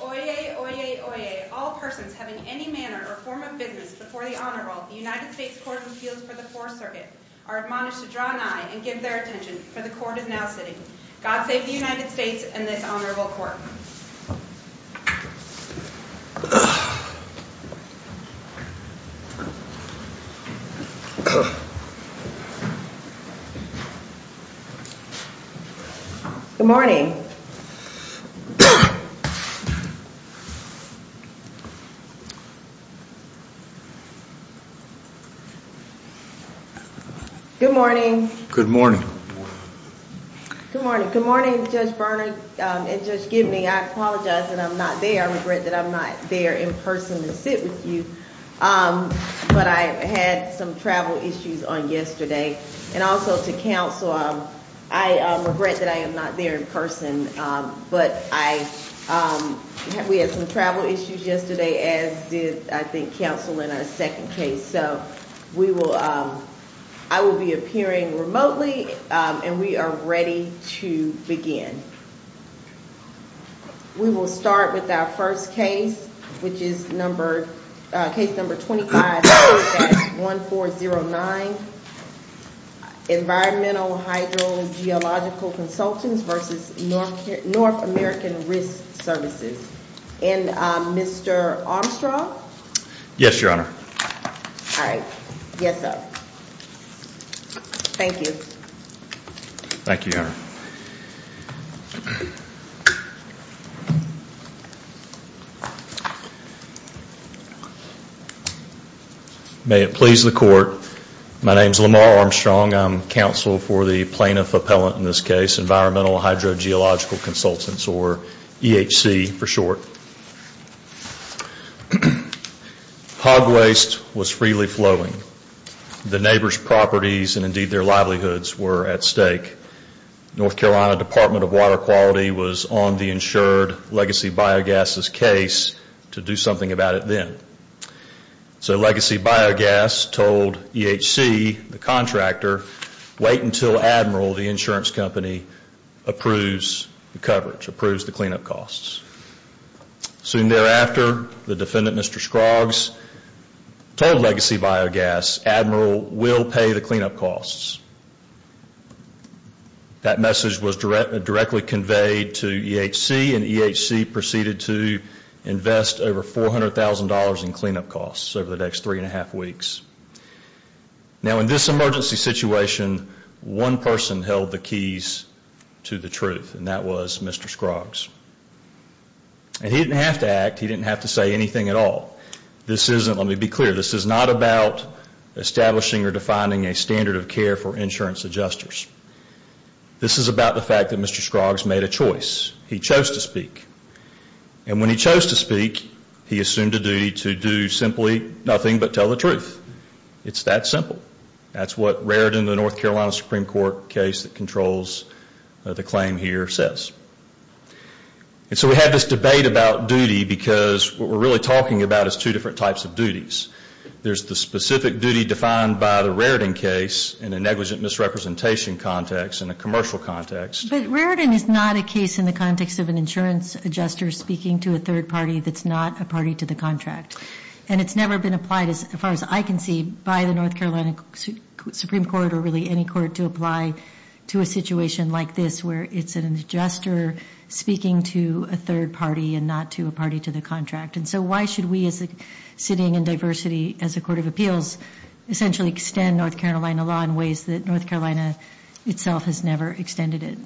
Oyez, oyez, oyez, all persons having any manner or form of business before the Honorable United States Court of Appeals for the Fourth Circuit are admonished to draw an eye and give their attention, for the Court is now sitting. God save the United States and this Honorable Court. Good morning. Good morning. Good morning. Good morning. Good morning, Judge Bernard and Judge Gibney. I apologize that I'm not there. I regret that I'm not there in person to sit with you, but I had some travel issues on And also to counsel, I regret that I am not there in person, but we had some travel issues yesterday as did, I think, counsel in our second case. And so we will, I will be appearing remotely and we are ready to begin. We will start with our first case, which is number, case number 25-1409, Environmental Hydrogeological Consultants v. North American Risk Services. And Mr. Armstrong? Yes, Your Honor. All right. Yes, sir. Thank you. Thank you, Your Honor. May it please the Court, my name is Lamar Armstrong. I'm counsel for the plaintiff appellant in this case, Environmental Hydrogeological Consultants or EHC for short. Hog waste was freely flowing. The neighbor's properties and indeed their livelihoods were at stake. North Carolina Department of Water Quality was on the insured Legacy Biogas' case to do something about it then. So Legacy Biogas told EHC, the contractor, wait until Admiral, the insurance company, approves the coverage, approves the cleanup costs. Soon thereafter, the defendant, Mr. Scroggs, told Legacy Biogas, Admiral, we'll pay the cleanup costs. That message was directly conveyed to EHC and EHC proceeded to invest over $400,000 in cleanup costs over the next three and a half weeks. Now, in this emergency situation, one person held the keys to the truth and that was Mr. Scroggs. And he didn't have to act. He didn't have to say anything at all. This isn't, let me be clear, this is not about establishing or defining a standard of care for insurance adjusters. This is about the fact that Mr. Scroggs made a choice. He chose to speak. And when he chose to speak, he assumed a duty to do simply nothing but tell the truth. It's that simple. That's what Raritan, the North Carolina Supreme Court case that controls the claim here, says. And so we have this debate about duty because what we're really talking about is two different types of duties. There's the specific duty defined by the Raritan case in a negligent misrepresentation context and a commercial context. But Raritan is not a case in the context of an insurance adjuster speaking to a third party that's not a party to the contract. And it's never been applied, as far as I can see, by the North Carolina Supreme Court or really any court to apply to a situation like this where it's an adjuster speaking to a third party and not to a party to the contract. And so why should we as a sitting in diversity as a court of appeals essentially extend North Carolina itself has never extended it?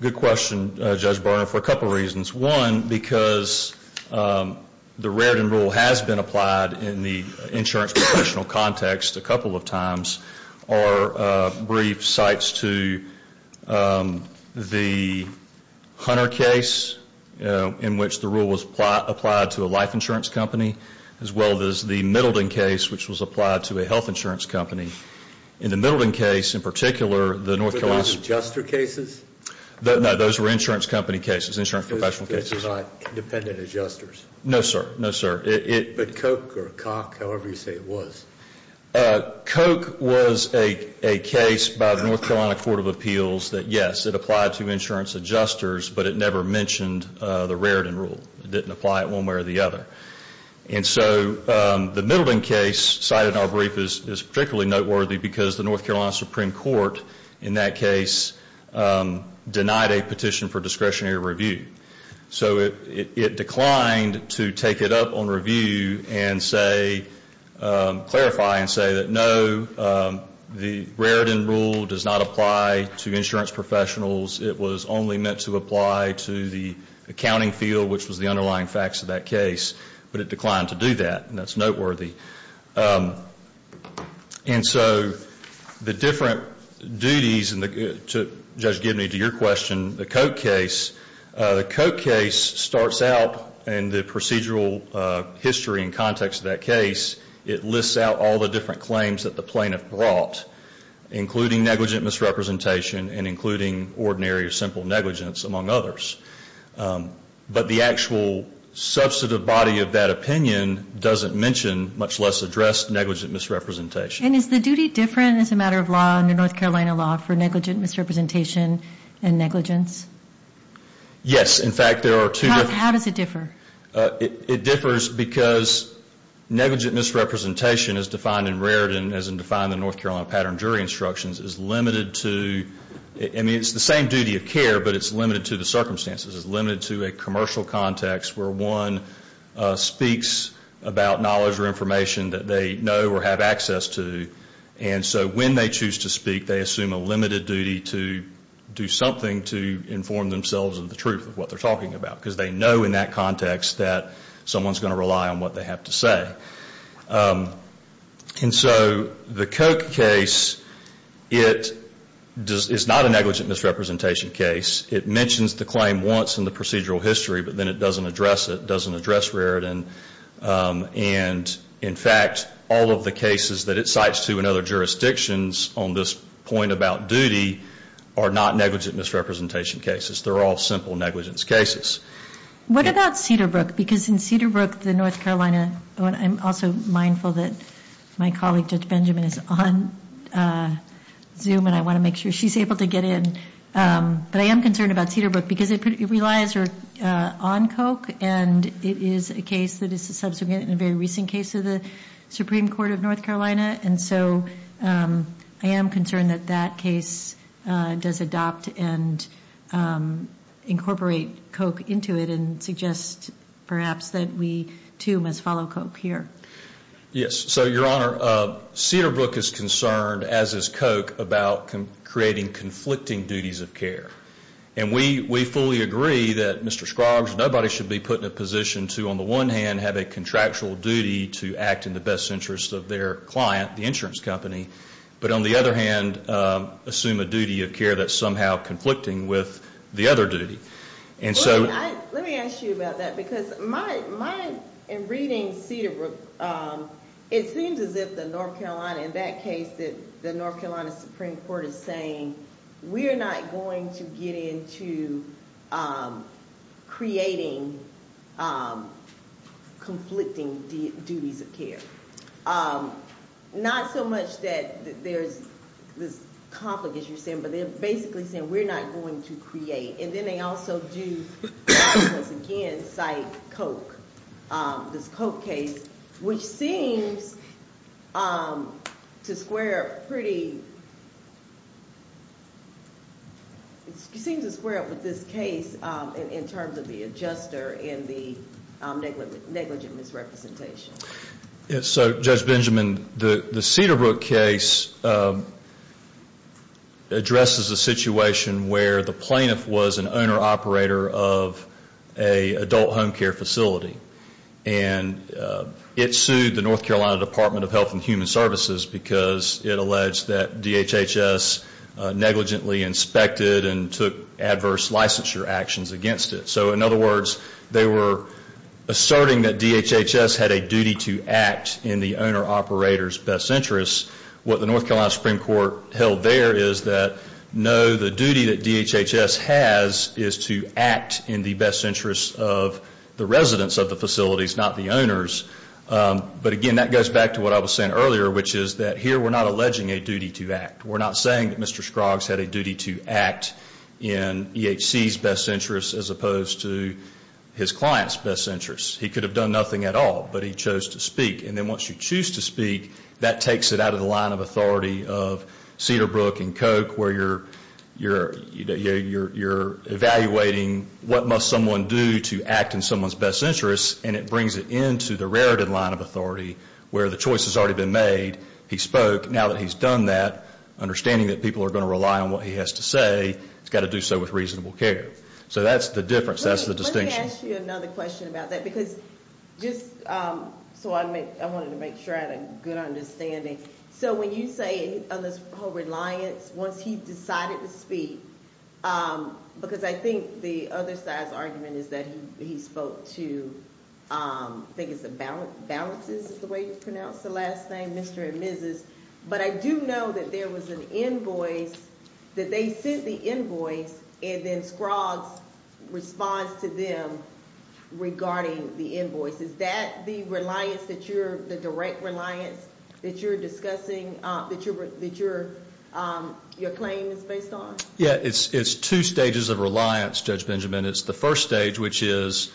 Good question, Judge Barnard, for a couple of reasons. One, because the Raritan rule has been applied in the insurance professional context a couple of times. Our brief cites to the Hunter case in which the rule was applied to a life insurance company as well as the Middleton case which was applied to a health insurance company. In the Middleton case, in particular, the North Carolina Were those adjuster cases? No, those were insurance company cases, insurance professional cases. Those cases are not dependent adjusters? No, sir. No, sir. But Koch or Koch, however you say it was? Koch was a case by the North Carolina Court of Appeals that, yes, it applied to insurance adjusters, but it never mentioned the Raritan rule. It didn't apply it one way or the other. And so the Middleton case cited in our brief is particularly noteworthy because the North Carolina Supreme Court in that case denied a petition for discretionary review. So it declined to take it up on review and say, clarify and say that, no, the Raritan rule does not apply to insurance professionals. It was only meant to apply to the accounting field, which was the underlying facts of that case. But it declined to do that, and that's noteworthy. And so the different duties, and Judge Gibney, to your question, the Koch case, the Koch case starts out in the procedural history and context of that case. It lists out all the different claims that the plaintiff brought, including negligent misrepresentation and including ordinary or simple negligence, among others. But the actual substantive body of that opinion doesn't mention, much less address, negligent misrepresentation. And is the duty different as a matter of law under North Carolina law for negligent misrepresentation and negligence? Yes. In fact, there are two. How does it differ? It differs because negligent misrepresentation, as defined in Raritan, as defined in the North Carolina pattern jury instructions, is limited to, I mean, it's the same duty of care, but it's limited to the circumstances. It's limited to a commercial context where one speaks about knowledge or information that they know or have access to, and so when they choose to speak, they assume a limited duty to do something to inform themselves of the truth of what they're talking about because they know in that context that someone's going to rely on what they have to say. And so the Koch case, it's not a negligent misrepresentation case. It mentions the claim once in the procedural history, but then it doesn't address it, doesn't address Raritan. And, in fact, all of the cases that it cites to in other jurisdictions on this point about duty are not negligent misrepresentation cases. They're all simple negligence cases. What about Cedarbrook? Because in Cedarbrook, the North Carolina, I'm also mindful that my colleague Judge Benjamin is on Zoom, and I want to make sure she's able to get in. But I am concerned about Cedarbrook because it relies on Koch, and it is a case that is a subsequent and a very recent case of the Supreme Court of North Carolina. And so I am concerned that that case does adopt and incorporate Koch into it and suggest perhaps that we, too, must follow Koch here. Yes. So, Your Honor, Cedarbrook is concerned, as is Koch, about creating conflicting duties of care. And we fully agree that, Mr. Scroggs, nobody should be put in a position to, on the one hand, have a contractual duty to act in the best interest of their client, the insurance company, but on the other hand, assume a duty of care that's somehow conflicting with the other duty. Let me ask you about that because my reading Cedarbrook, it seems as if the North Carolina, in that case, the North Carolina Supreme Court is saying we're not going to get into creating conflicting duties of care. Not so much that there's this conflict, as you're saying, but they're basically saying we're not going to create. And then they also do, once again, cite Koch, this Koch case, which seems to square up pretty, seems to square up with this case in terms of the adjuster and the negligent misrepresentation. So, Judge Benjamin, the Cedarbrook case addresses a situation where the plaintiff was an owner-operator of an adult home care facility. And it sued the North Carolina Department of Health and Human Services because it alleged that DHHS negligently inspected and took adverse licensure actions against it. So, in other words, they were asserting that DHHS had a duty to act in the owner-operator's best interests. What the North Carolina Supreme Court held there is that, no, the duty that DHHS has is to act in the best interests of the residents of the facilities, not the owners. But, again, that goes back to what I was saying earlier, which is that here we're not alleging a duty to act. We're not saying that Mr. Scroggs had a duty to act in EHC's best interests as opposed to his client's best interests. He could have done nothing at all, but he chose to speak. And then once you choose to speak, that takes it out of the line of authority of Cedarbrook and Koch, where you're evaluating what must someone do to act in someone's best interests, and it brings it into the rarity line of authority where the choice has already been made. He spoke. Now that he's done that, understanding that people are going to rely on what he has to say, he's got to do so with reasonable care. So that's the difference. That's the distinction. Let me ask you another question about that, because just so I wanted to make sure I had a good understanding. So when you say on this whole reliance, once he decided to speak, because I think the other side's argument is that he spoke to, I think it's Balances is the way you pronounce the last name, Mr. and Mrs., but I do know that there was an invoice, that they sent the invoice, and then Scroggs responds to them regarding the invoice. Is that the reliance that you're, the direct reliance that you're discussing, that your claim is based on? Yeah, it's two stages of reliance, Judge Benjamin. It's the first stage, which is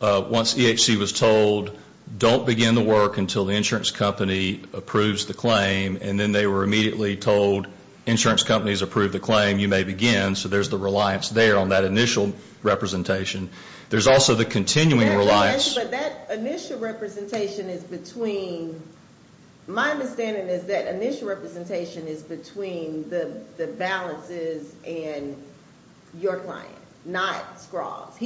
once EHC was told, don't begin the work until the insurance company approves the claim, and then they were immediately told, insurance companies approve the claim, you may begin. So there's the reliance there on that initial representation. There's also the continuing reliance. But that initial representation is between, my understanding is that initial representation is between the Balances and your client, not Scroggs.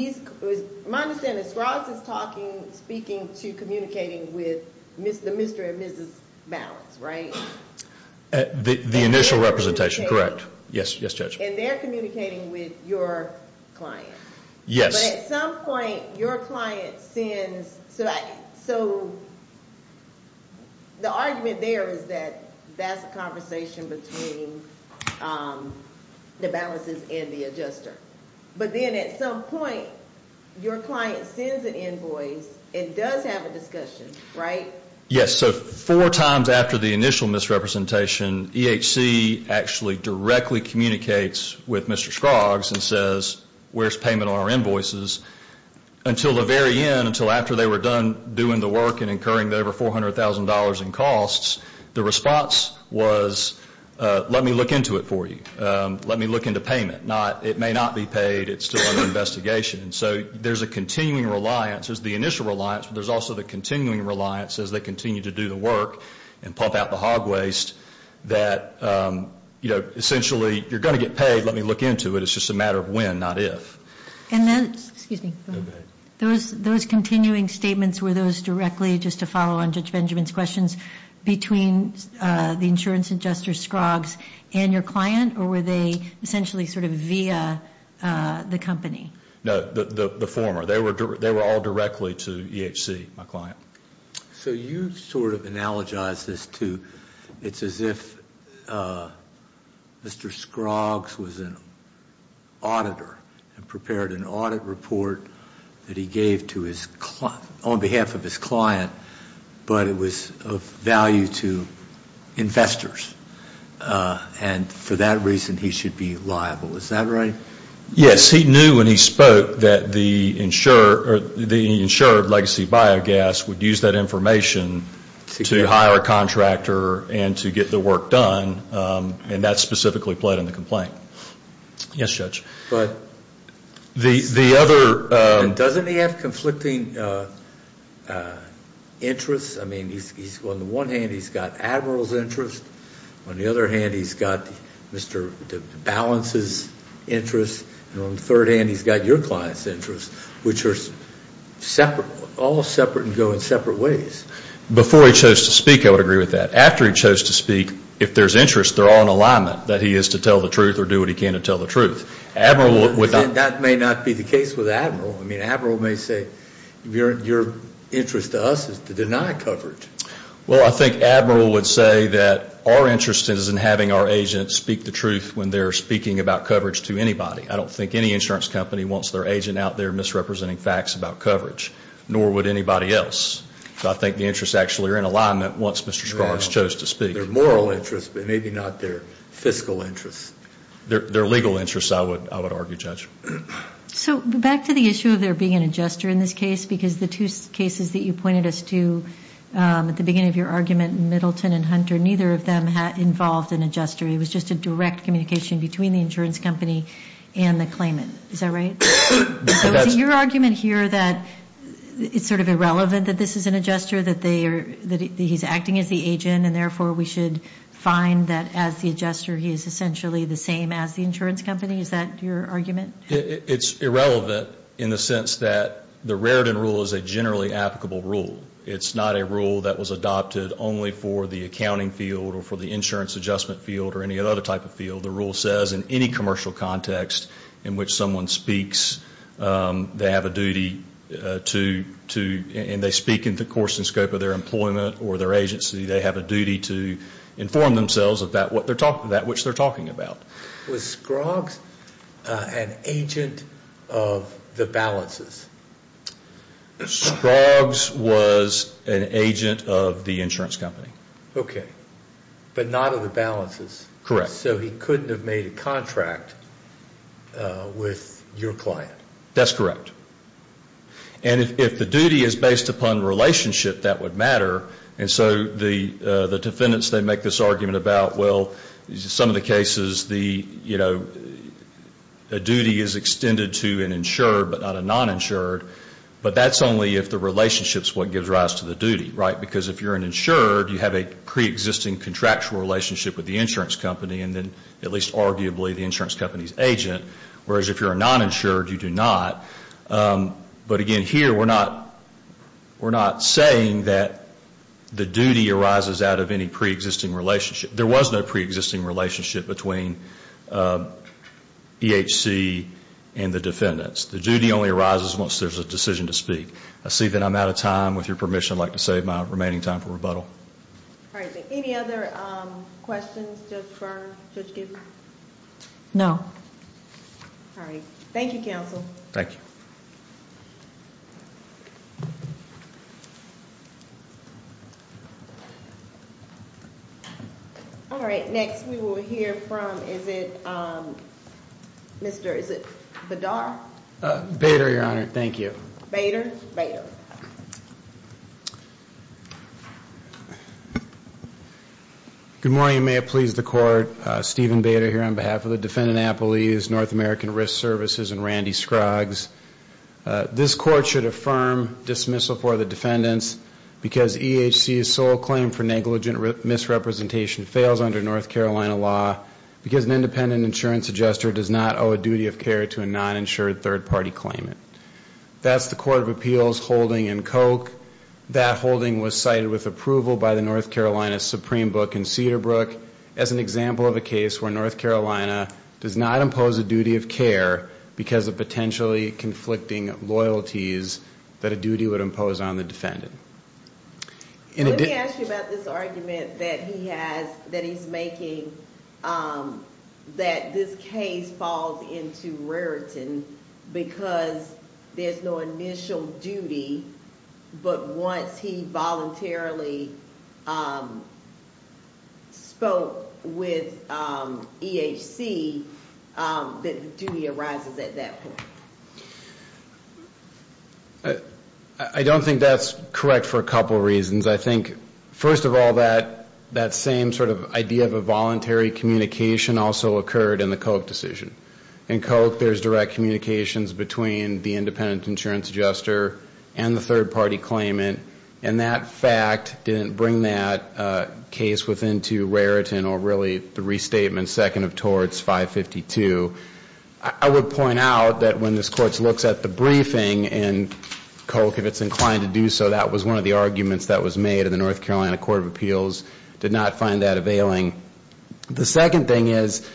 My understanding is Scroggs is talking, speaking to, communicating with the Mr. and Mrs. Balance, right? The initial representation, correct. Yes, Judge. And they're communicating with your client. Yes. But at some point, your client sends, so the argument there is that that's a conversation between the Balances and the adjuster. But then at some point, your client sends an invoice and does have a discussion, right? Yes, so four times after the initial misrepresentation, EHC actually directly communicates with Mr. Scroggs and says, where's payment on our invoices? Until the very end, until after they were done doing the work and incurring the over $400,000 in costs, the response was, let me look into it for you. Let me look into payment. It may not be paid. It's still under investigation. And so there's a continuing reliance. There's the initial reliance, but there's also the continuing reliance as they continue to do the work and pump out the hog waste that, you know, essentially, you're going to get paid. Let me look into it. It's just a matter of when, not if. And then, excuse me. Those continuing statements, were those directly, just to follow on Judge Benjamin's questions, between the insurance adjuster, Scroggs, and your client? Or were they essentially sort of via the company? No, the former. They were all directly to EHC, my client. So you sort of analogize this to, it's as if Mr. Scroggs was an auditor and prepared an audit report that he gave on behalf of his client, but it was of value to investors. And for that reason, he should be liable. Is that right? Yes. He knew when he spoke that the insured legacy biogas would use that information to hire a contractor and to get the work done, and that specifically played in the complaint. Yes, Judge. But doesn't he have conflicting interests? I mean, on the one hand, he's got Admiral's interest. On the other hand, he's got Mr. DeBalance's interest. And on the third hand, he's got your client's interest, which are all separate and go in separate ways. Before he chose to speak, I would agree with that. After he chose to speak, if there's interest, they're all in alignment, that he is to tell the truth or do what he can to tell the truth. That may not be the case with Admiral. I mean, Admiral may say, your interest to us is to deny coverage. Well, I think Admiral would say that our interest is in having our agents speak the truth when they're speaking about coverage to anybody. I don't think any insurance company wants their agent out there misrepresenting facts about coverage, nor would anybody else. So I think the interests actually are in alignment once Mr. Sparks chose to speak. They're moral interests, but maybe not their fiscal interests. Their legal interests, I would argue, Judge. So back to the issue of there being an adjuster in this case, because the two cases that you pointed us to at the beginning of your argument, Middleton and Hunter, neither of them involved an adjuster. It was just a direct communication between the insurance company and the claimant. Is that right? So is it your argument here that it's sort of irrelevant that this is an adjuster, that he's acting as the agent, and therefore we should find that as the adjuster, he is essentially the same as the insurance company? Is that your argument? It's irrelevant in the sense that the Raritan rule is a generally applicable rule. It's not a rule that was adopted only for the accounting field or for the insurance adjustment field or any other type of field. The rule says in any commercial context in which someone speaks, they have a duty to, and they speak in the course and scope of their employment or their agency, they have a duty to inform themselves of that which they're talking about. Was Scroggs an agent of the balances? Scroggs was an agent of the insurance company. Okay. But not of the balances. Correct. So he couldn't have made a contract with your client. That's correct. And if the duty is based upon relationship, that would matter. And so the defendants, they make this argument about, well, some of the cases the duty is extended to an insured but not a non-insured, but that's only if the relationship is what gives rise to the duty, right? Because if you're an insured, you have a preexisting contractual relationship with the insurance company and then at least arguably the insurance company's agent, whereas if you're a non-insured, you do not. But again, here we're not saying that the duty arises out of any preexisting relationship. There was no preexisting relationship between EHC and the defendants. The duty only arises once there's a decision to speak. I see that I'm out of time. With your permission, I'd like to save my remaining time for rebuttal. All right. Any other questions, Judge Byrne, Judge Gabor? No. All right. Thank you, counsel. Thank you. All right. Next we will hear from, is it Mr. Badar? Bader, Your Honor. Thank you. Good morning. May it please the Court. Stephen Bader here on behalf of the defendant, Apple E. It's North American Risk Services and Randy Scruggs. This court should affirm dismissal for the defendants because EHC's sole claim for negligent misrepresentation fails under North Carolina law because an independent insurance adjuster does not owe a duty of care to a non-insured third-party claimant. That's the Court of Appeals holding in Koch. That holding was cited with approval by the North Carolina Supreme Book in Cedarbrook as an example of a case where North Carolina does not impose a duty of care because of potentially conflicting loyalties that a duty would impose on the defendant. Let me ask you about this argument that he has, that he's making, that this case falls into rarity because there's no initial duty, but once he voluntarily spoke with EHC, the duty arises at that point. I don't think that's correct for a couple reasons. I think, first of all, that same sort of idea of a voluntary communication also occurred in the Koch decision. In Koch, there's direct communications between the independent insurance adjuster and the third-party claimant, and that fact didn't bring that case into rarity or really the restatement second of torts 552. I would point out that when this court looks at the briefing in Koch, if it's inclined to do so, that was one of the arguments that was made and the North Carolina Court of Appeals did not find that availing. The second thing is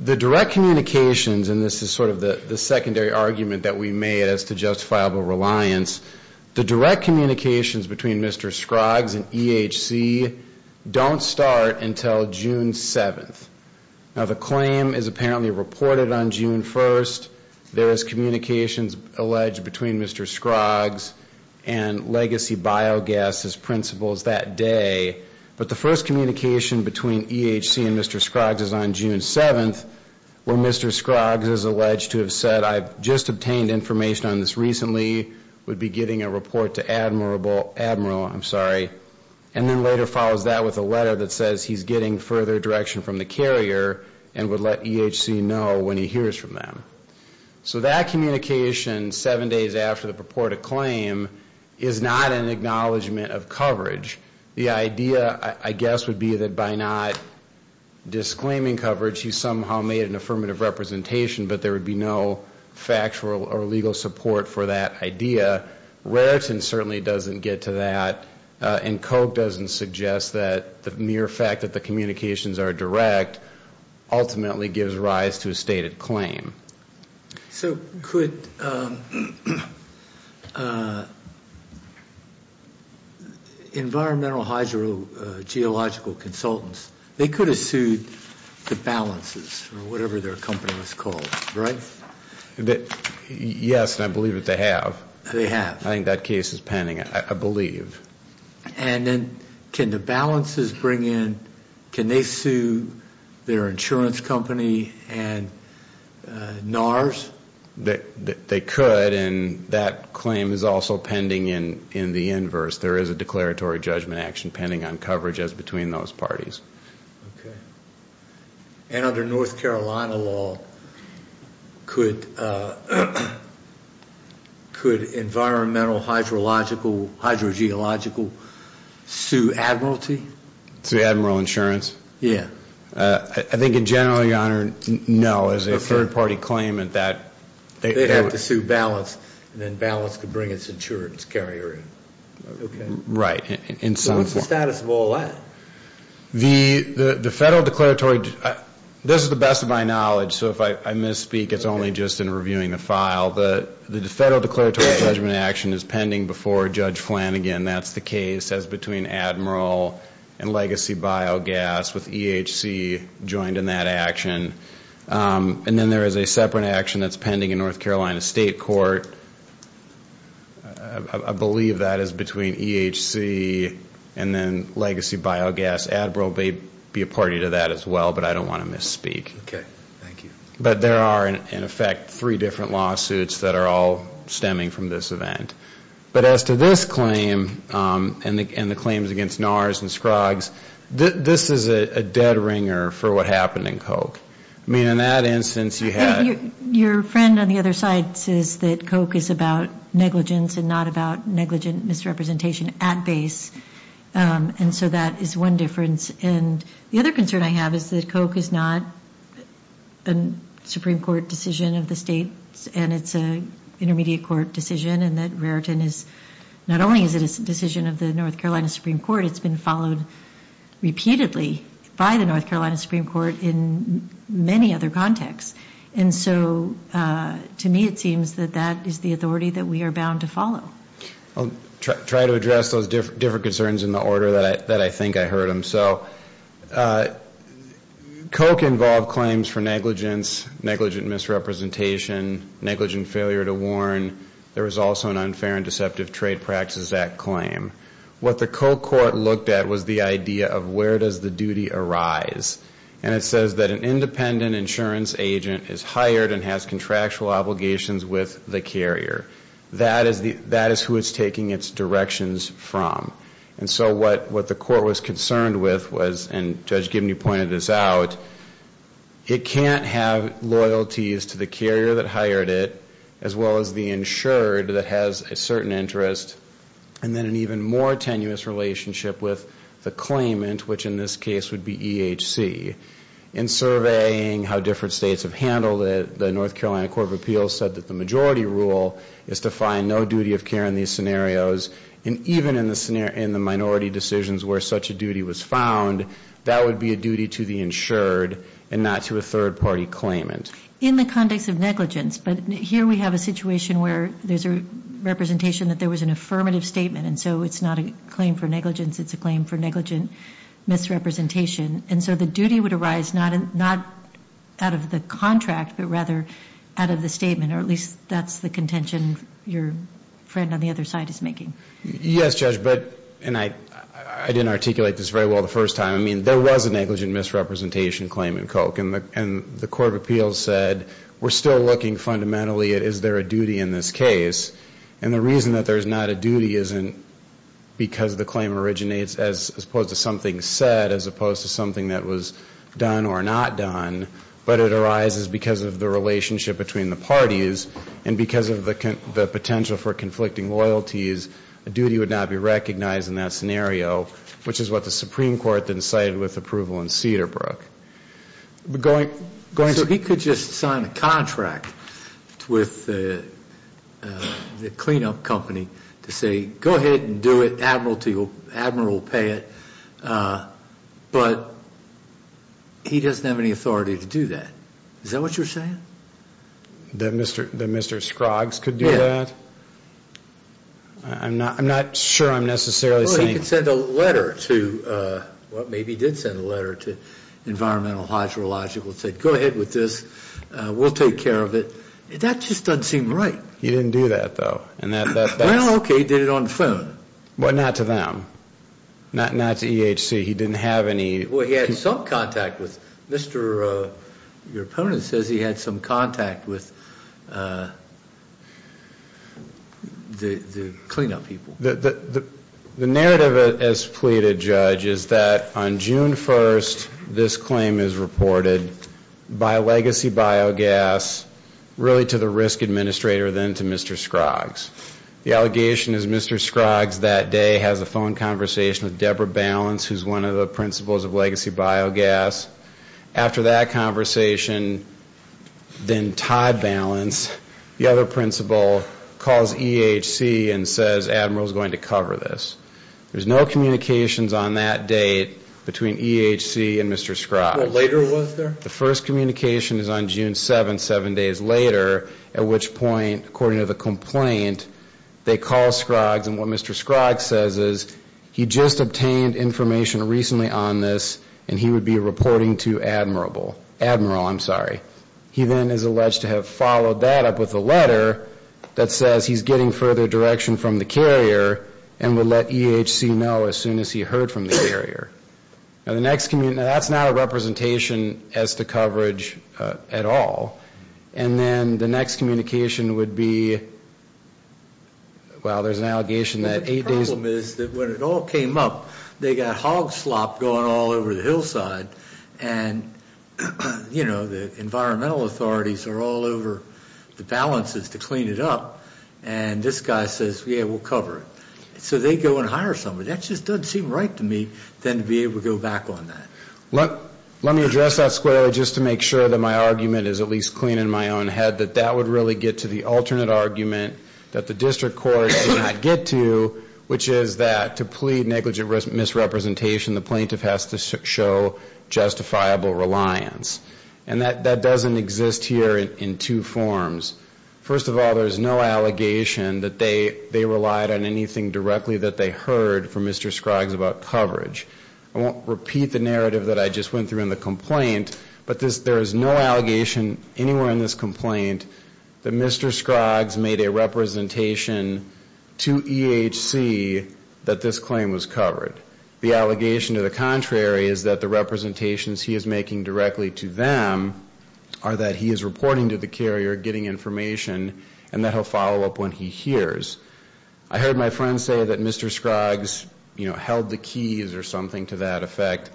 the direct communications, and this is sort of the secondary argument that we made as to justifiable reliance, the direct communications between Mr. Scroggs and EHC don't start until June 7th. Now, the claim is apparently reported on June 1st. There is communications alleged between Mr. Scroggs and legacy biogas as principals that day, but the first communication between EHC and Mr. Scroggs is on June 7th, where Mr. Scroggs is alleged to have said, I've just obtained information on this recently, would be getting a report to Admiral, I'm sorry, and then later follows that with a letter that says he's getting further direction from the carrier and would let EHC know when he hears from them. So that communication seven days after the purported claim is not an acknowledgment of coverage. The idea, I guess, would be that by not disclaiming coverage he somehow made an affirmative representation, but there would be no factual or legal support for that idea. Raritan certainly doesn't get to that, and Koch doesn't suggest that the mere fact that the communications are direct ultimately gives rise to a stated claim. So could environmental hydro geological consultants, they could have sued the balances or whatever their company was called, right? Yes, and I believe that they have. They have. I think that case is pending, I believe. And then can the balances bring in, can they sue their insurance company and NARS? They could, and that claim is also pending in the inverse. There is a declaratory judgment action pending on coverage as between those parties. Okay. And under North Carolina law, could environmental hydro geological sue Admiralty? Sue Admiral Insurance? Yeah. I think in general, your Honor, no, as a third-party claimant that they would. They'd have to sue balance, and then balance could bring its insurance carrier in. Right. So what's the status of all that? The federal declaratory, this is the best of my knowledge, so if I misspeak, it's only just in reviewing the file. The federal declaratory judgment action is pending before Judge Flanagan. That's the case as between Admiralty and Legacy Biogas with EHC joined in that action. And then there is a separate action that's pending in North Carolina State Court. I believe that is between EHC and then Legacy Biogas. Admiralty would be a party to that as well, but I don't want to misspeak. Thank you. But there are, in effect, three different lawsuits that are all stemming from this event. But as to this claim and the claims against NARS and Scruggs, this is a dead ringer for what happened in Coke. I mean, in that instance, you had. Your friend on the other side says that Coke is about negligence and not about negligent misrepresentation at base. And so that is one difference. And the other concern I have is that Coke is not a Supreme Court decision of the states, and it's an intermediate court decision and that Raritan is not only a decision of the North Carolina Supreme Court, it's been followed repeatedly by the North Carolina Supreme Court in many other contexts. And so to me it seems that that is the authority that we are bound to follow. I'll try to address those different concerns in the order that I think I heard them. So Coke involved claims for negligence, negligent misrepresentation, negligent failure to warn. There was also an unfair and deceptive Trade Practices Act claim. What the Coke court looked at was the idea of where does the duty arise. And it says that an independent insurance agent is hired and has contractual obligations with the carrier. That is who it's taking its directions from. And so what the court was concerned with was, and Judge Gibney pointed this out, it can't have loyalties to the carrier that hired it, as well as the insured that has a certain interest, and then an even more tenuous relationship with the claimant, which in this case would be EHC. In surveying how different states have handled it, the North Carolina Court of Appeals said that the majority rule is to find no duty of care in these scenarios. And even in the minority decisions where such a duty was found, that would be a duty to the insured and not to a third party claimant. In the context of negligence, but here we have a situation where there's a representation that there was an affirmative statement, and so it's not a claim for negligence. It's a claim for negligent misrepresentation. And so the duty would arise not out of the contract, but rather out of the statement, or at least that's the contention your friend on the other side is making. Yes, Judge, but, and I didn't articulate this very well the first time. I mean, there was a negligent misrepresentation claim in Coke. And the Court of Appeals said, we're still looking fundamentally at is there a duty in this case. And the reason that there's not a duty isn't because the claim originates as opposed to something said, as opposed to something that was done or not done, but it arises because of the relationship between the parties, and because of the potential for conflicting loyalties, a duty would not be recognized in that scenario, which is what the Supreme Court then cited with approval in Cedarbrook. So he could just sign a contract with the cleanup company to say, go ahead and do it, Admiral will pay it, but he doesn't have any authority to do that. Is that what you're saying? That Mr. Scroggs could do that? Yes. I'm not sure I'm necessarily saying. He could send a letter to, well, maybe he did send a letter to Environmental Hydrological that said, go ahead with this, we'll take care of it. That just doesn't seem right. He didn't do that, though. Well, okay, he did it on the phone. But not to them. Not to EHC. He didn't have any. Well, he had some contact with Mr. Your opponent says he had some contact with the cleanup people. The narrative as pleaded, Judge, is that on June 1st, this claim is reported by Legacy Biogas, really to the risk administrator, then to Mr. Scroggs. The allegation is Mr. Scroggs that day has a phone conversation with Deborah Balance, who's one of the principals of Legacy Biogas. After that conversation, then Todd Balance, the other principal, calls EHC and says Admiral's going to cover this. There's no communications on that date between EHC and Mr. Scroggs. Later was there? The first communication is on June 7th, seven days later, at which point, according to the complaint, they call Scroggs and what Mr. Scroggs says is he just obtained information recently on this and he would be reporting to Admiral. He then is alleged to have followed that up with a letter that says he's getting further direction from the carrier and would let EHC know as soon as he heard from the carrier. That's not a representation as to coverage at all. And then the next communication would be, well, there's an allegation that eight days. They got hog slop going all over the hillside and, you know, the environmental authorities are all over the balances to clean it up. And this guy says, yeah, we'll cover it. So they go and hire somebody. That just doesn't seem right to me then to be able to go back on that. Let me address that squarely just to make sure that my argument is at least clean in my own head, that that would really get to the alternate argument that the district court did not get to, which is that to plead negligent misrepresentation, the plaintiff has to show justifiable reliance. And that doesn't exist here in two forms. First of all, there's no allegation that they relied on anything directly that they heard from Mr. Scroggs about coverage. I won't repeat the narrative that I just went through in the complaint, but there is no allegation anywhere in this complaint that Mr. Scroggs made a representation to EHC that this claim was covered. The allegation to the contrary is that the representations he is making directly to them are that he is reporting to the carrier, getting information, and that he'll follow up when he hears. I heard my friend say that Mr. Scroggs, you know, held the keys or something to that effect.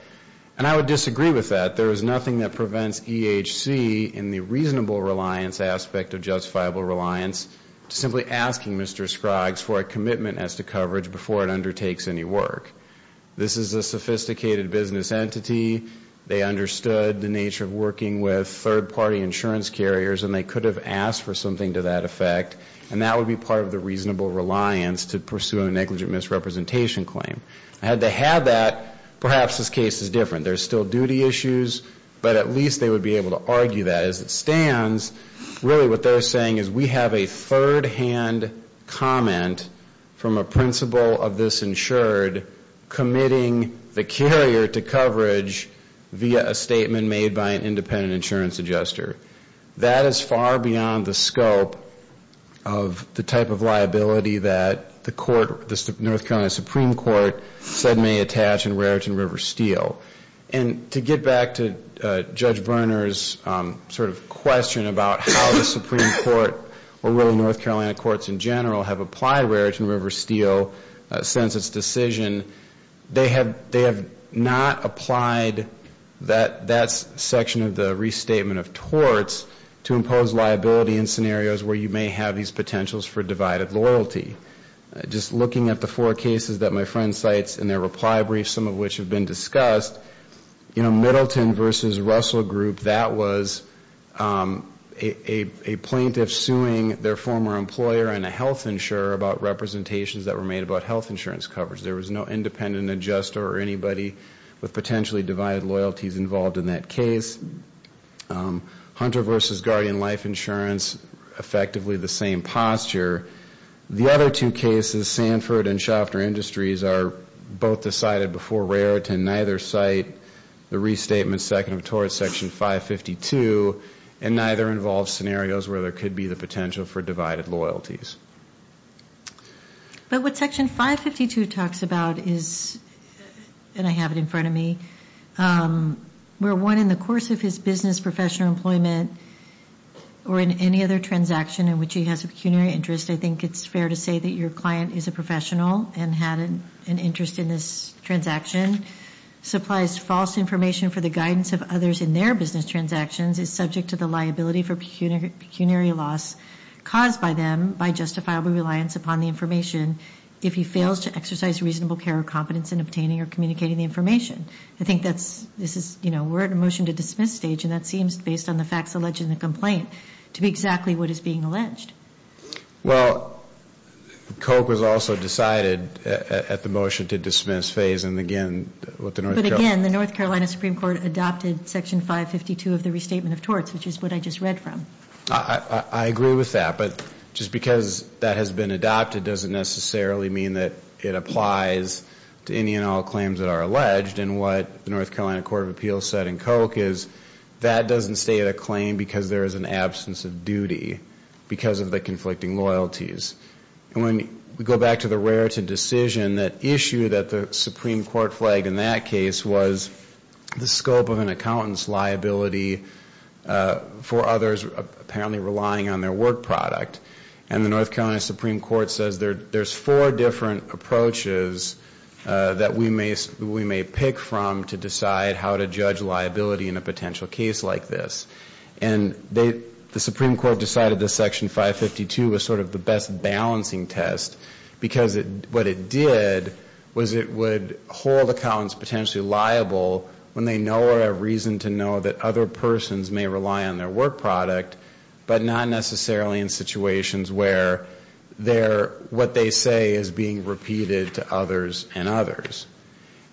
And I would disagree with that. There is nothing that prevents EHC in the reasonable reliance aspect of justifiable reliance to simply asking Mr. Scroggs for a commitment as to coverage before it undertakes any work. This is a sophisticated business entity. They understood the nature of working with third-party insurance carriers, and they could have asked for something to that effect, and that would be part of the reasonable reliance to pursue a negligent misrepresentation claim. Had they had that, perhaps this case is different. There's still duty issues, but at least they would be able to argue that as it stands. Really what they're saying is we have a third-hand comment from a principal of this insured committing the carrier to coverage via a statement made by an independent insurance adjuster. That is far beyond the scope of the type of liability that the court, the North Carolina Supreme Court, said may attach in Raritan River Steel. And to get back to Judge Berner's sort of question about how the Supreme Court or really North Carolina courts in general have applied Raritan River Steel since its decision, they have not applied that section of the restatement of torts to impose liability in scenarios where you may have these potentials for divided loyalty. Just looking at the four cases that my friend cites in their reply brief, some of which have been discussed, you know, Middleton versus Russell Group, that was a plaintiff suing their former employer and a health insurer about representations that were made about health insurance coverage. There was no independent adjuster or anybody with potentially divided loyalties involved in that case. Hunter versus Guardian Life Insurance, effectively the same posture. The other two cases, Sanford and Schaffner Industries, are both decided before Raritan. Neither cite the restatement second of tort section 552, and neither involve scenarios where there could be the potential for divided loyalties. But what section 552 talks about is, and I have it in front of me, where one in the course of his business, professional employment, or in any other transaction in which he has a pecuniary interest, I think it's fair to say that your client is a professional and had an interest in this transaction, supplies false information for the guidance of others in their business transactions, is subject to the liability for pecuniary loss caused by them by justifiable reliance upon the information if he fails to exercise reasonable care or competence in obtaining or communicating the information. I think this is, you know, we're at a motion to dismiss stage, and that seems, based on the facts alleged in the complaint, to be exactly what is being alleged. Well, Koch was also decided at the motion to dismiss phase, and again, what the North Carolina But again, the North Carolina Supreme Court adopted section 552 of the restatement of torts, which is what I just read from. I agree with that, but just because that has been adopted doesn't necessarily mean that it applies to any and all claims that are alleged, and what the North Carolina Court of Appeals said in Koch is, that doesn't stay at a claim because there is an absence of duty because of the conflicting loyalties. And when we go back to the Raritan decision, that issue that the Supreme Court flagged in that case was the scope of an accountant's liability for others apparently relying on their work product, and the North Carolina Supreme Court says there's four different approaches that we may pick from to decide how to judge liability in a potential case like this. And the Supreme Court decided that section 552 was sort of the best balancing test, because what it did was it would hold accountants potentially liable when they know or have reason to know that other persons may rely on their work product, but not necessarily in situations where what they say is being repeated to others and others.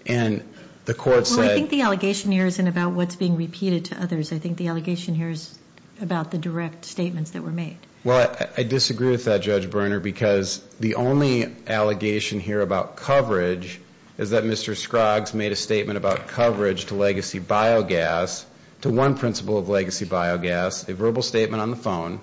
And the court said... Well, I think the allegation here isn't about what's being repeated to others. I think the allegation here is about the direct statements that were made. Well, I disagree with that, Judge Berner, because the only allegation here about coverage is that Mr. Scroggs made a statement about coverage to legacy biogas, to one principle of legacy biogas, a verbal statement on the phone,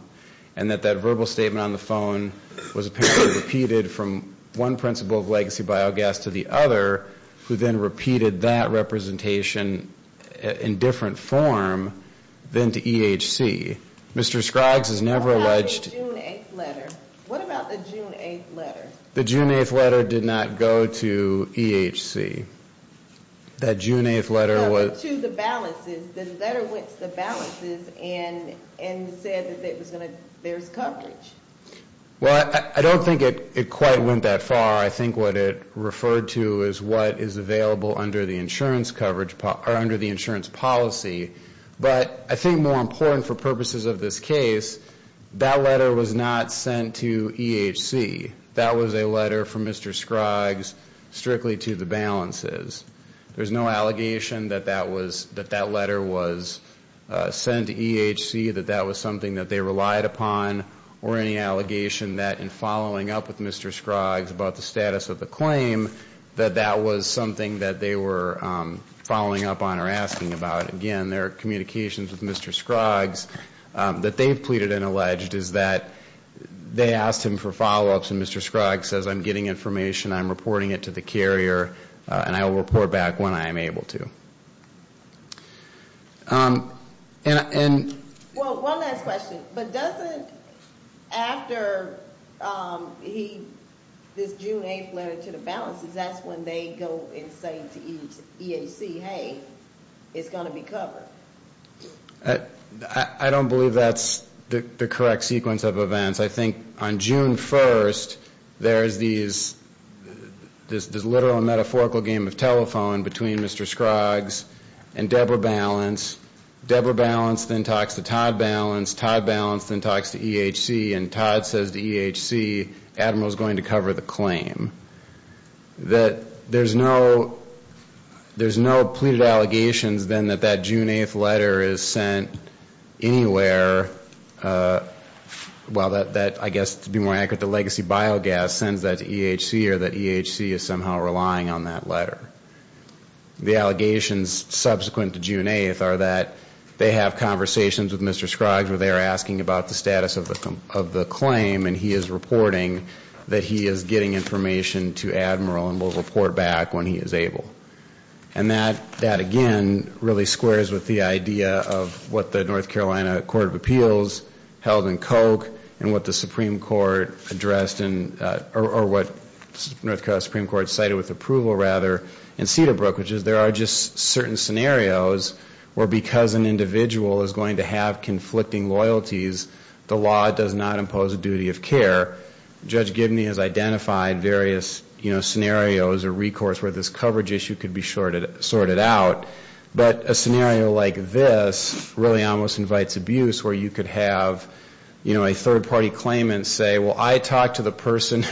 and that that verbal statement on the phone was apparently repeated from one principle of legacy biogas to the other, who then repeated that representation in different form than to EHC. Mr. Scroggs has never alleged... What about the June 8th letter? What about the June 8th letter? The June 8th letter did not go to EHC. That June 8th letter was... No, but to the balances. And said that there's coverage. Well, I don't think it quite went that far. I think what it referred to is what is available under the insurance policy. But I think more important for purposes of this case, that letter was not sent to EHC. That was a letter from Mr. Scroggs strictly to the balances. There's no allegation that that letter was sent to EHC, that that was something that they relied upon, or any allegation that in following up with Mr. Scroggs about the status of the claim, that that was something that they were following up on or asking about. Again, their communications with Mr. Scroggs that they've pleaded and alleged is that they asked him for follow-ups, and Mr. Scroggs says, I'm reporting it to the carrier, and I will report back when I am able to. Well, one last question. But doesn't after this June 8th letter to the balances, that's when they go and say to EHC, hey, it's going to be covered? I don't believe that's the correct sequence of events. I think on June 1st, there's this literal and metaphorical game of telephone between Mr. Scroggs and Debra Balance. Debra Balance then talks to Todd Balance. Todd Balance then talks to EHC, and Todd says to EHC, Admiral's going to cover the claim. There's no pleaded allegations then that that June 8th letter is sent anywhere. Well, I guess to be more accurate, the legacy biogas sends that to EHC, or that EHC is somehow relying on that letter. The allegations subsequent to June 8th are that they have conversations with Mr. Scroggs where they are asking about the status of the claim, and he is reporting that he is getting information to Admiral and will report back when he is able. And that, again, really squares with the idea of what the North Carolina Court of Appeals held in Koch and what the Supreme Court addressed in, or what North Carolina Supreme Court cited with approval, rather, in Cedarbrook, which is there are just certain scenarios where because an individual is going to have conflicting loyalties, the law does not impose a duty of care. Judge Gibney has identified various scenarios or recourse where this coverage issue could be sorted out. But a scenario like this really almost invites abuse where you could have a third-party claimant say, well, I talked to the person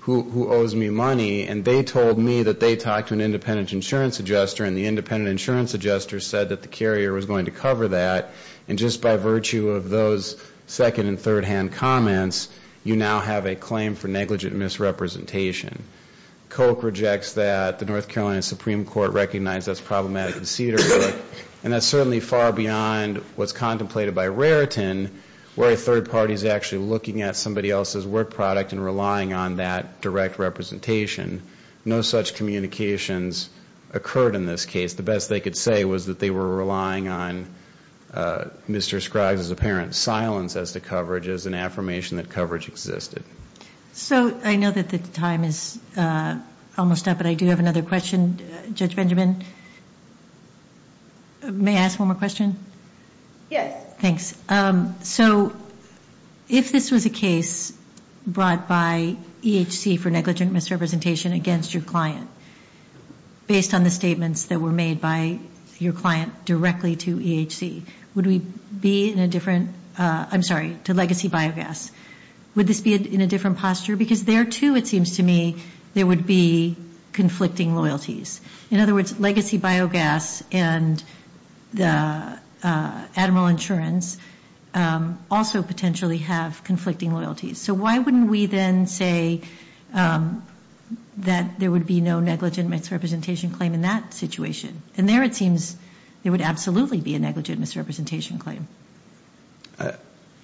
who owes me money, and they told me that they talked to an independent insurance adjuster, and the independent insurance adjuster said that the carrier was going to cover that. And just by virtue of those second- and third-hand comments, you now have a claim for negligent misrepresentation. Koch rejects that. The North Carolina Supreme Court recognizes that is problematic in Cedarbrook, and that is certainly far beyond what is contemplated by Raritan, where a third party is actually looking at somebody else's work product and relying on that direct representation. No such communications occurred in this case. The best they could say was that they were relying on Mr. Scruggs' apparent silence as to coverage as an affirmation that coverage existed. So I know that the time is almost up, but I do have another question, Judge Benjamin. May I ask one more question? Yes. Thanks. So if this was a case brought by EHC for negligent misrepresentation against your client, based on the statements that were made by your client directly to EHC, would we be in a different- I'm sorry, to Legacy Biogas. Would this be in a different posture? Because there, too, it seems to me, there would be conflicting loyalties. In other words, Legacy Biogas and Admiral Insurance also potentially have conflicting loyalties. So why wouldn't we then say that there would be no negligent misrepresentation claim in that situation? And there it seems there would absolutely be a negligent misrepresentation claim.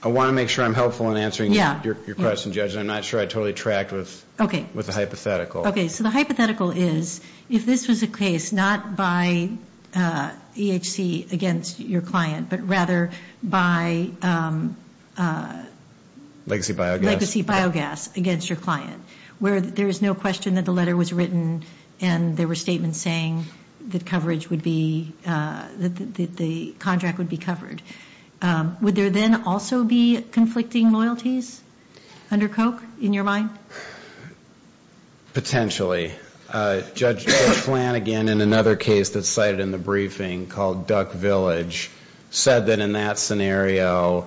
I want to make sure I'm helpful in answering your question, Judge. I'm not sure I totally tracked with the hypothetical. Okay. So the hypothetical is, if this was a case not by EHC against your client, but rather by- Legacy Biogas. Legacy Biogas against your client, where there is no question that the letter was written and there were statements saying that the contract would be covered, would there then also be conflicting loyalties under Koch in your mind? Potentially. Judge Flanagan, in another case that's cited in the briefing called Duck Village, said that in that scenario,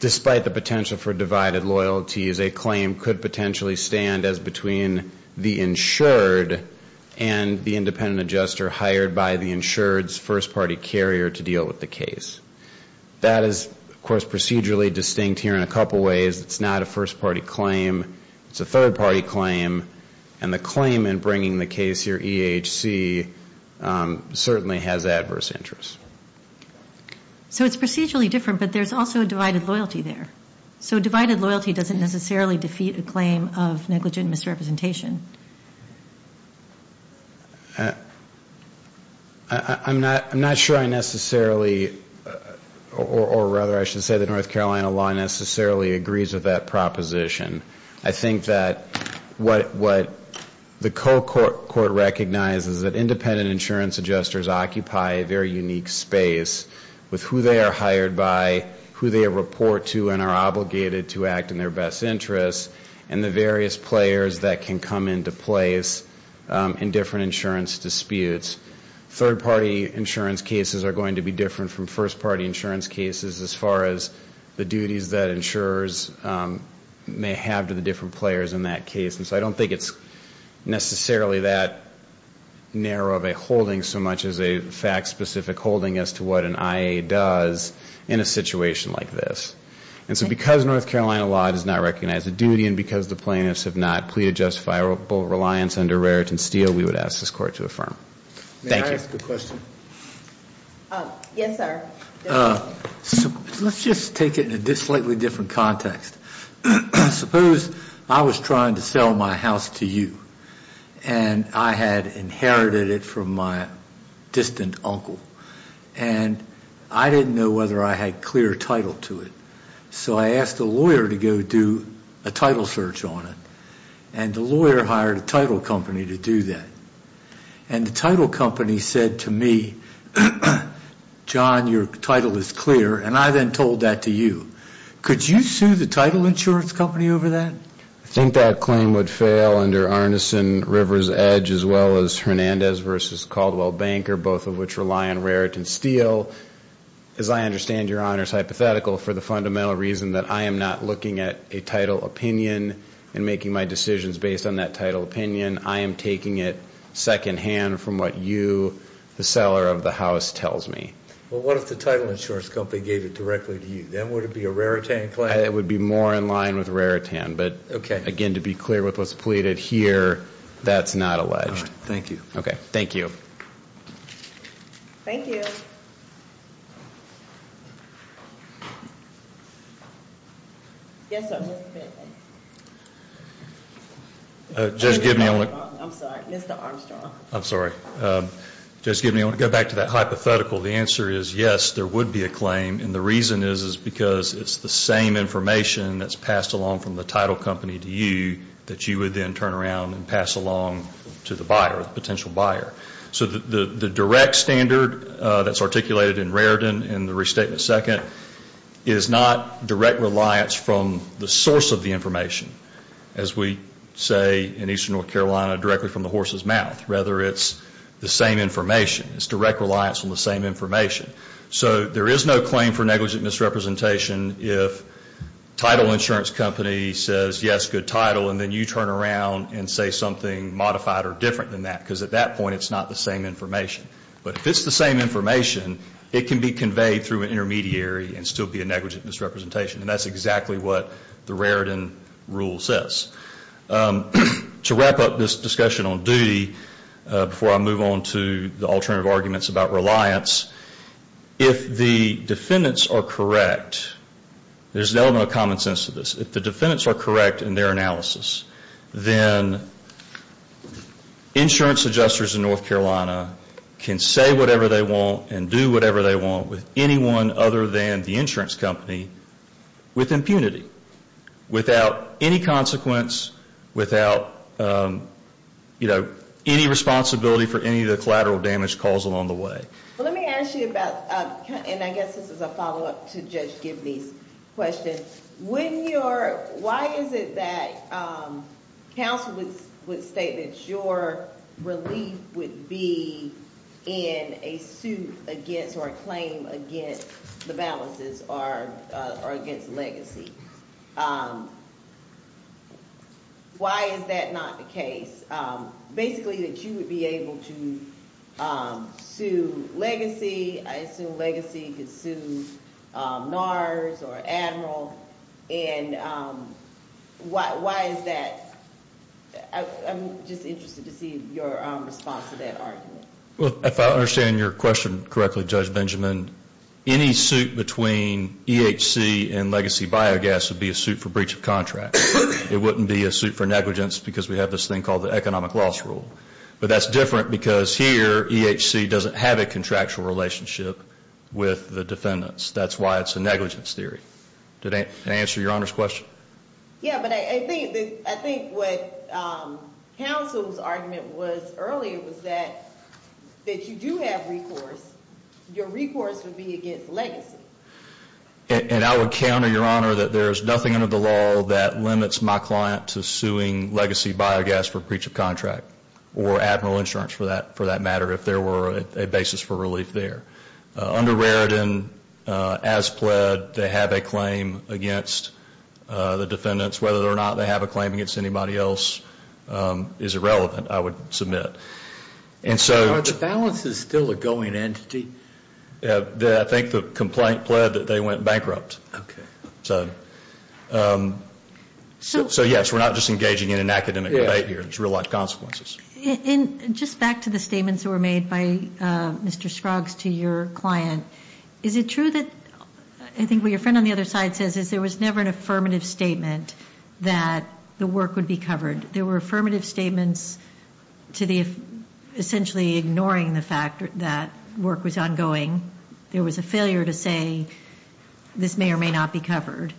despite the potential for divided loyalties, a claim could potentially stand as between the insured and the independent adjuster hired by the insured's first-party carrier to deal with the case. That is, of course, procedurally distinct here in a couple ways. It's not a first-party claim. It's a third-party claim. And the claim in bringing the case here, EHC, certainly has adverse interests. So it's procedurally different, but there's also a divided loyalty there. So divided loyalty doesn't necessarily defeat a claim of negligent misrepresentation. I'm not sure I necessarily, or rather I should say the North Carolina law necessarily agrees with that proposition. I think that what the Koch court recognizes is that independent insurance adjusters occupy a very unique space with who they are hired by, who they report to and are obligated to act in their best interests, and the various players that can come into place in different insurance disputes. Third-party insurance cases are going to be different from first-party insurance cases as far as the duties that insurers may have to the different players in that case. And so I don't think it's necessarily that narrow of a holding so much as a fact-specific holding as to what an IA does in a situation like this. And so because North Carolina law does not recognize the duty and because the plaintiffs have not pleaded justifiable reliance under Raritan Steele, we would ask this court to affirm. Thank you. May I ask a question? Yes, sir. Let's just take it in a slightly different context. Suppose I was trying to sell my house to you and I had inherited it from my distant uncle and I didn't know whether I had clear title to it, so I asked a lawyer to go do a title search on it and the lawyer hired a title company to do that. And the title company said to me, John, your title is clear. And I then told that to you. Could you sue the title insurance company over that? I think that claim would fail under Arneson, River's Edge, as well as Hernandez v. Caldwell Banker, both of which rely on Raritan Steele. As I understand your honors hypothetical for the fundamental reason that I am not looking at a title opinion and making my decisions based on that title opinion, I am taking it secondhand from what you, the seller of the house, tells me. Well, what if the title insurance company gave it directly to you? Then would it be a Raritan claim? It would be more in line with Raritan. But, again, to be clear with what's pleaded here, that's not alleged. All right. Thank you. Okay. Thank you. Thank you. Yes, sir. Just give me a moment. I'm sorry. Mr. Armstrong. I'm sorry. Just give me a moment. Go back to that hypothetical. The answer is yes, there would be a claim. And the reason is because it's the same information that's passed along from the title company to you that you would then turn around and pass along to the buyer, the potential buyer. So the direct standard that's articulated in Raritan in the restatement second is not direct reliance from the source of the information, as we say in eastern North Carolina, directly from the horse's mouth. Rather, it's the same information. It's direct reliance on the same information. So there is no claim for negligent misrepresentation if title insurance company says, yes, good title, and then you turn around and say something modified or different than that because at that point it's not the same information. But if it's the same information, it can be conveyed through an intermediary and still be a negligent misrepresentation. And that's exactly what the Raritan rule says. To wrap up this discussion on duty before I move on to the alternative arguments about reliance, if the defendants are correct, there's an element of common sense to this. If the defendants are correct in their analysis, then insurance adjusters in North Carolina can say whatever they want and do whatever they want with anyone other than the insurance company with impunity, without any consequence, without, you know, any responsibility for any of the collateral damage caused along the way. Let me ask you about, and I guess this is a follow-up to Judge Gibney's question, why is it that counsel would state that your relief would be in a suit against or a claim against the balances or against legacy? Why is that not the case? Basically that you would be able to sue legacy. I assume legacy could sue NARS or Admiral. And why is that? I'm just interested to see your response to that argument. Well, if I understand your question correctly, Judge Benjamin, any suit between EHC and legacy biogas would be a suit for breach of contract. It wouldn't be a suit for negligence because we have this thing called the economic loss rule. But that's different because here EHC doesn't have a contractual relationship with the defendants. That's why it's a negligence theory. Did that answer your Honor's question? Yeah, but I think what counsel's argument was earlier was that you do have recourse. Your recourse would be against legacy. And I would counter your Honor that there is nothing under the law that limits my client to suing legacy biogas for breach of contract or Admiral insurance for that matter if there were a basis for relief there. Under Raritan, as pled, they have a claim against the defendants. Whether or not they have a claim against anybody else is irrelevant, I would submit. Are the balances still a going entity? I think the complaint pled that they went bankrupt. Okay. So, yes, we're not just engaging in an academic debate here. There's real life consequences. Just back to the statements that were made by Mr. Scruggs to your client, is it true that I think what your friend on the other side says is there was never an affirmative statement that the work would be covered? There were affirmative statements to the essentially ignoring the fact that work was ongoing. There was a failure to say this may or may not be covered.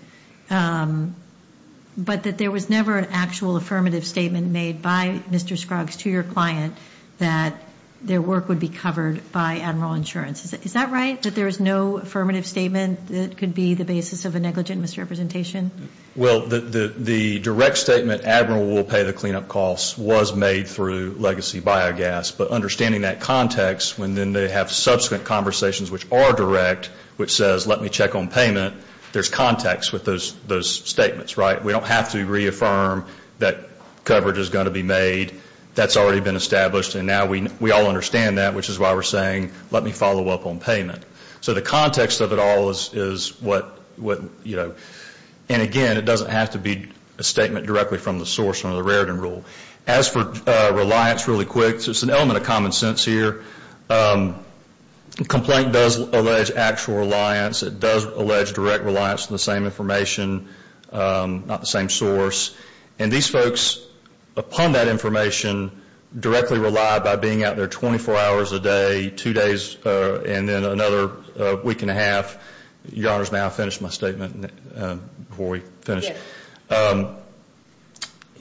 But that there was never an actual affirmative statement made by Mr. Scruggs to your client that their work would be covered by Admiral insurance. Is that right, that there is no affirmative statement that could be the basis of a negligent misrepresentation? Well, the direct statement Admiral will pay the cleanup costs was made through legacy biogas. But understanding that context when then they have subsequent conversations which are direct, which says let me check on payment, there's context with those statements, right? We don't have to reaffirm that coverage is going to be made. That's already been established, and now we all understand that, which is why we're saying let me follow up on payment. So the context of it all is what, you know, and again, it doesn't have to be a statement directly from the source under the Raritan rule. As for reliance really quick, there's an element of common sense here. Complaint does allege actual reliance. It does allege direct reliance on the same information, not the same source. And these folks, upon that information, directly rely by being out there 24 hours a day, two days and then another week and a half. Your Honor, may I finish my statement before we finish? Yes.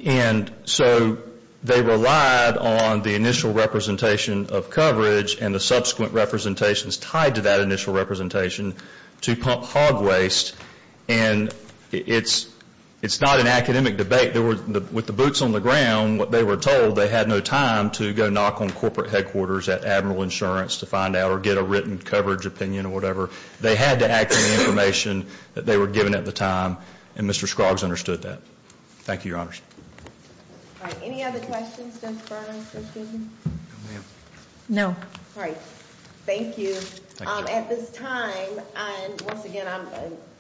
And so they relied on the initial representation of coverage and the subsequent representations tied to that initial representation to pump hog waste. And it's not an academic debate. With the boots on the ground, what they were told, they had no time to go knock on corporate headquarters at Admiral Insurance to find out or get a written coverage opinion or whatever. They had to act on the information that they were given at the time. And Mr. Scroggs understood that. Thank you, Your Honor. All right. Any other questions, Judge Burner, Judge Gibson? No. All right. Thank you. At this time, once again, I'm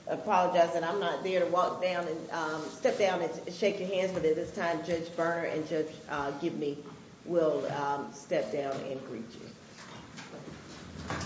apologizing. I'm not there to walk down and step down and shake your hands, but at this time, Judge Burner and Judge Gibson will step down and greet you. Thank you.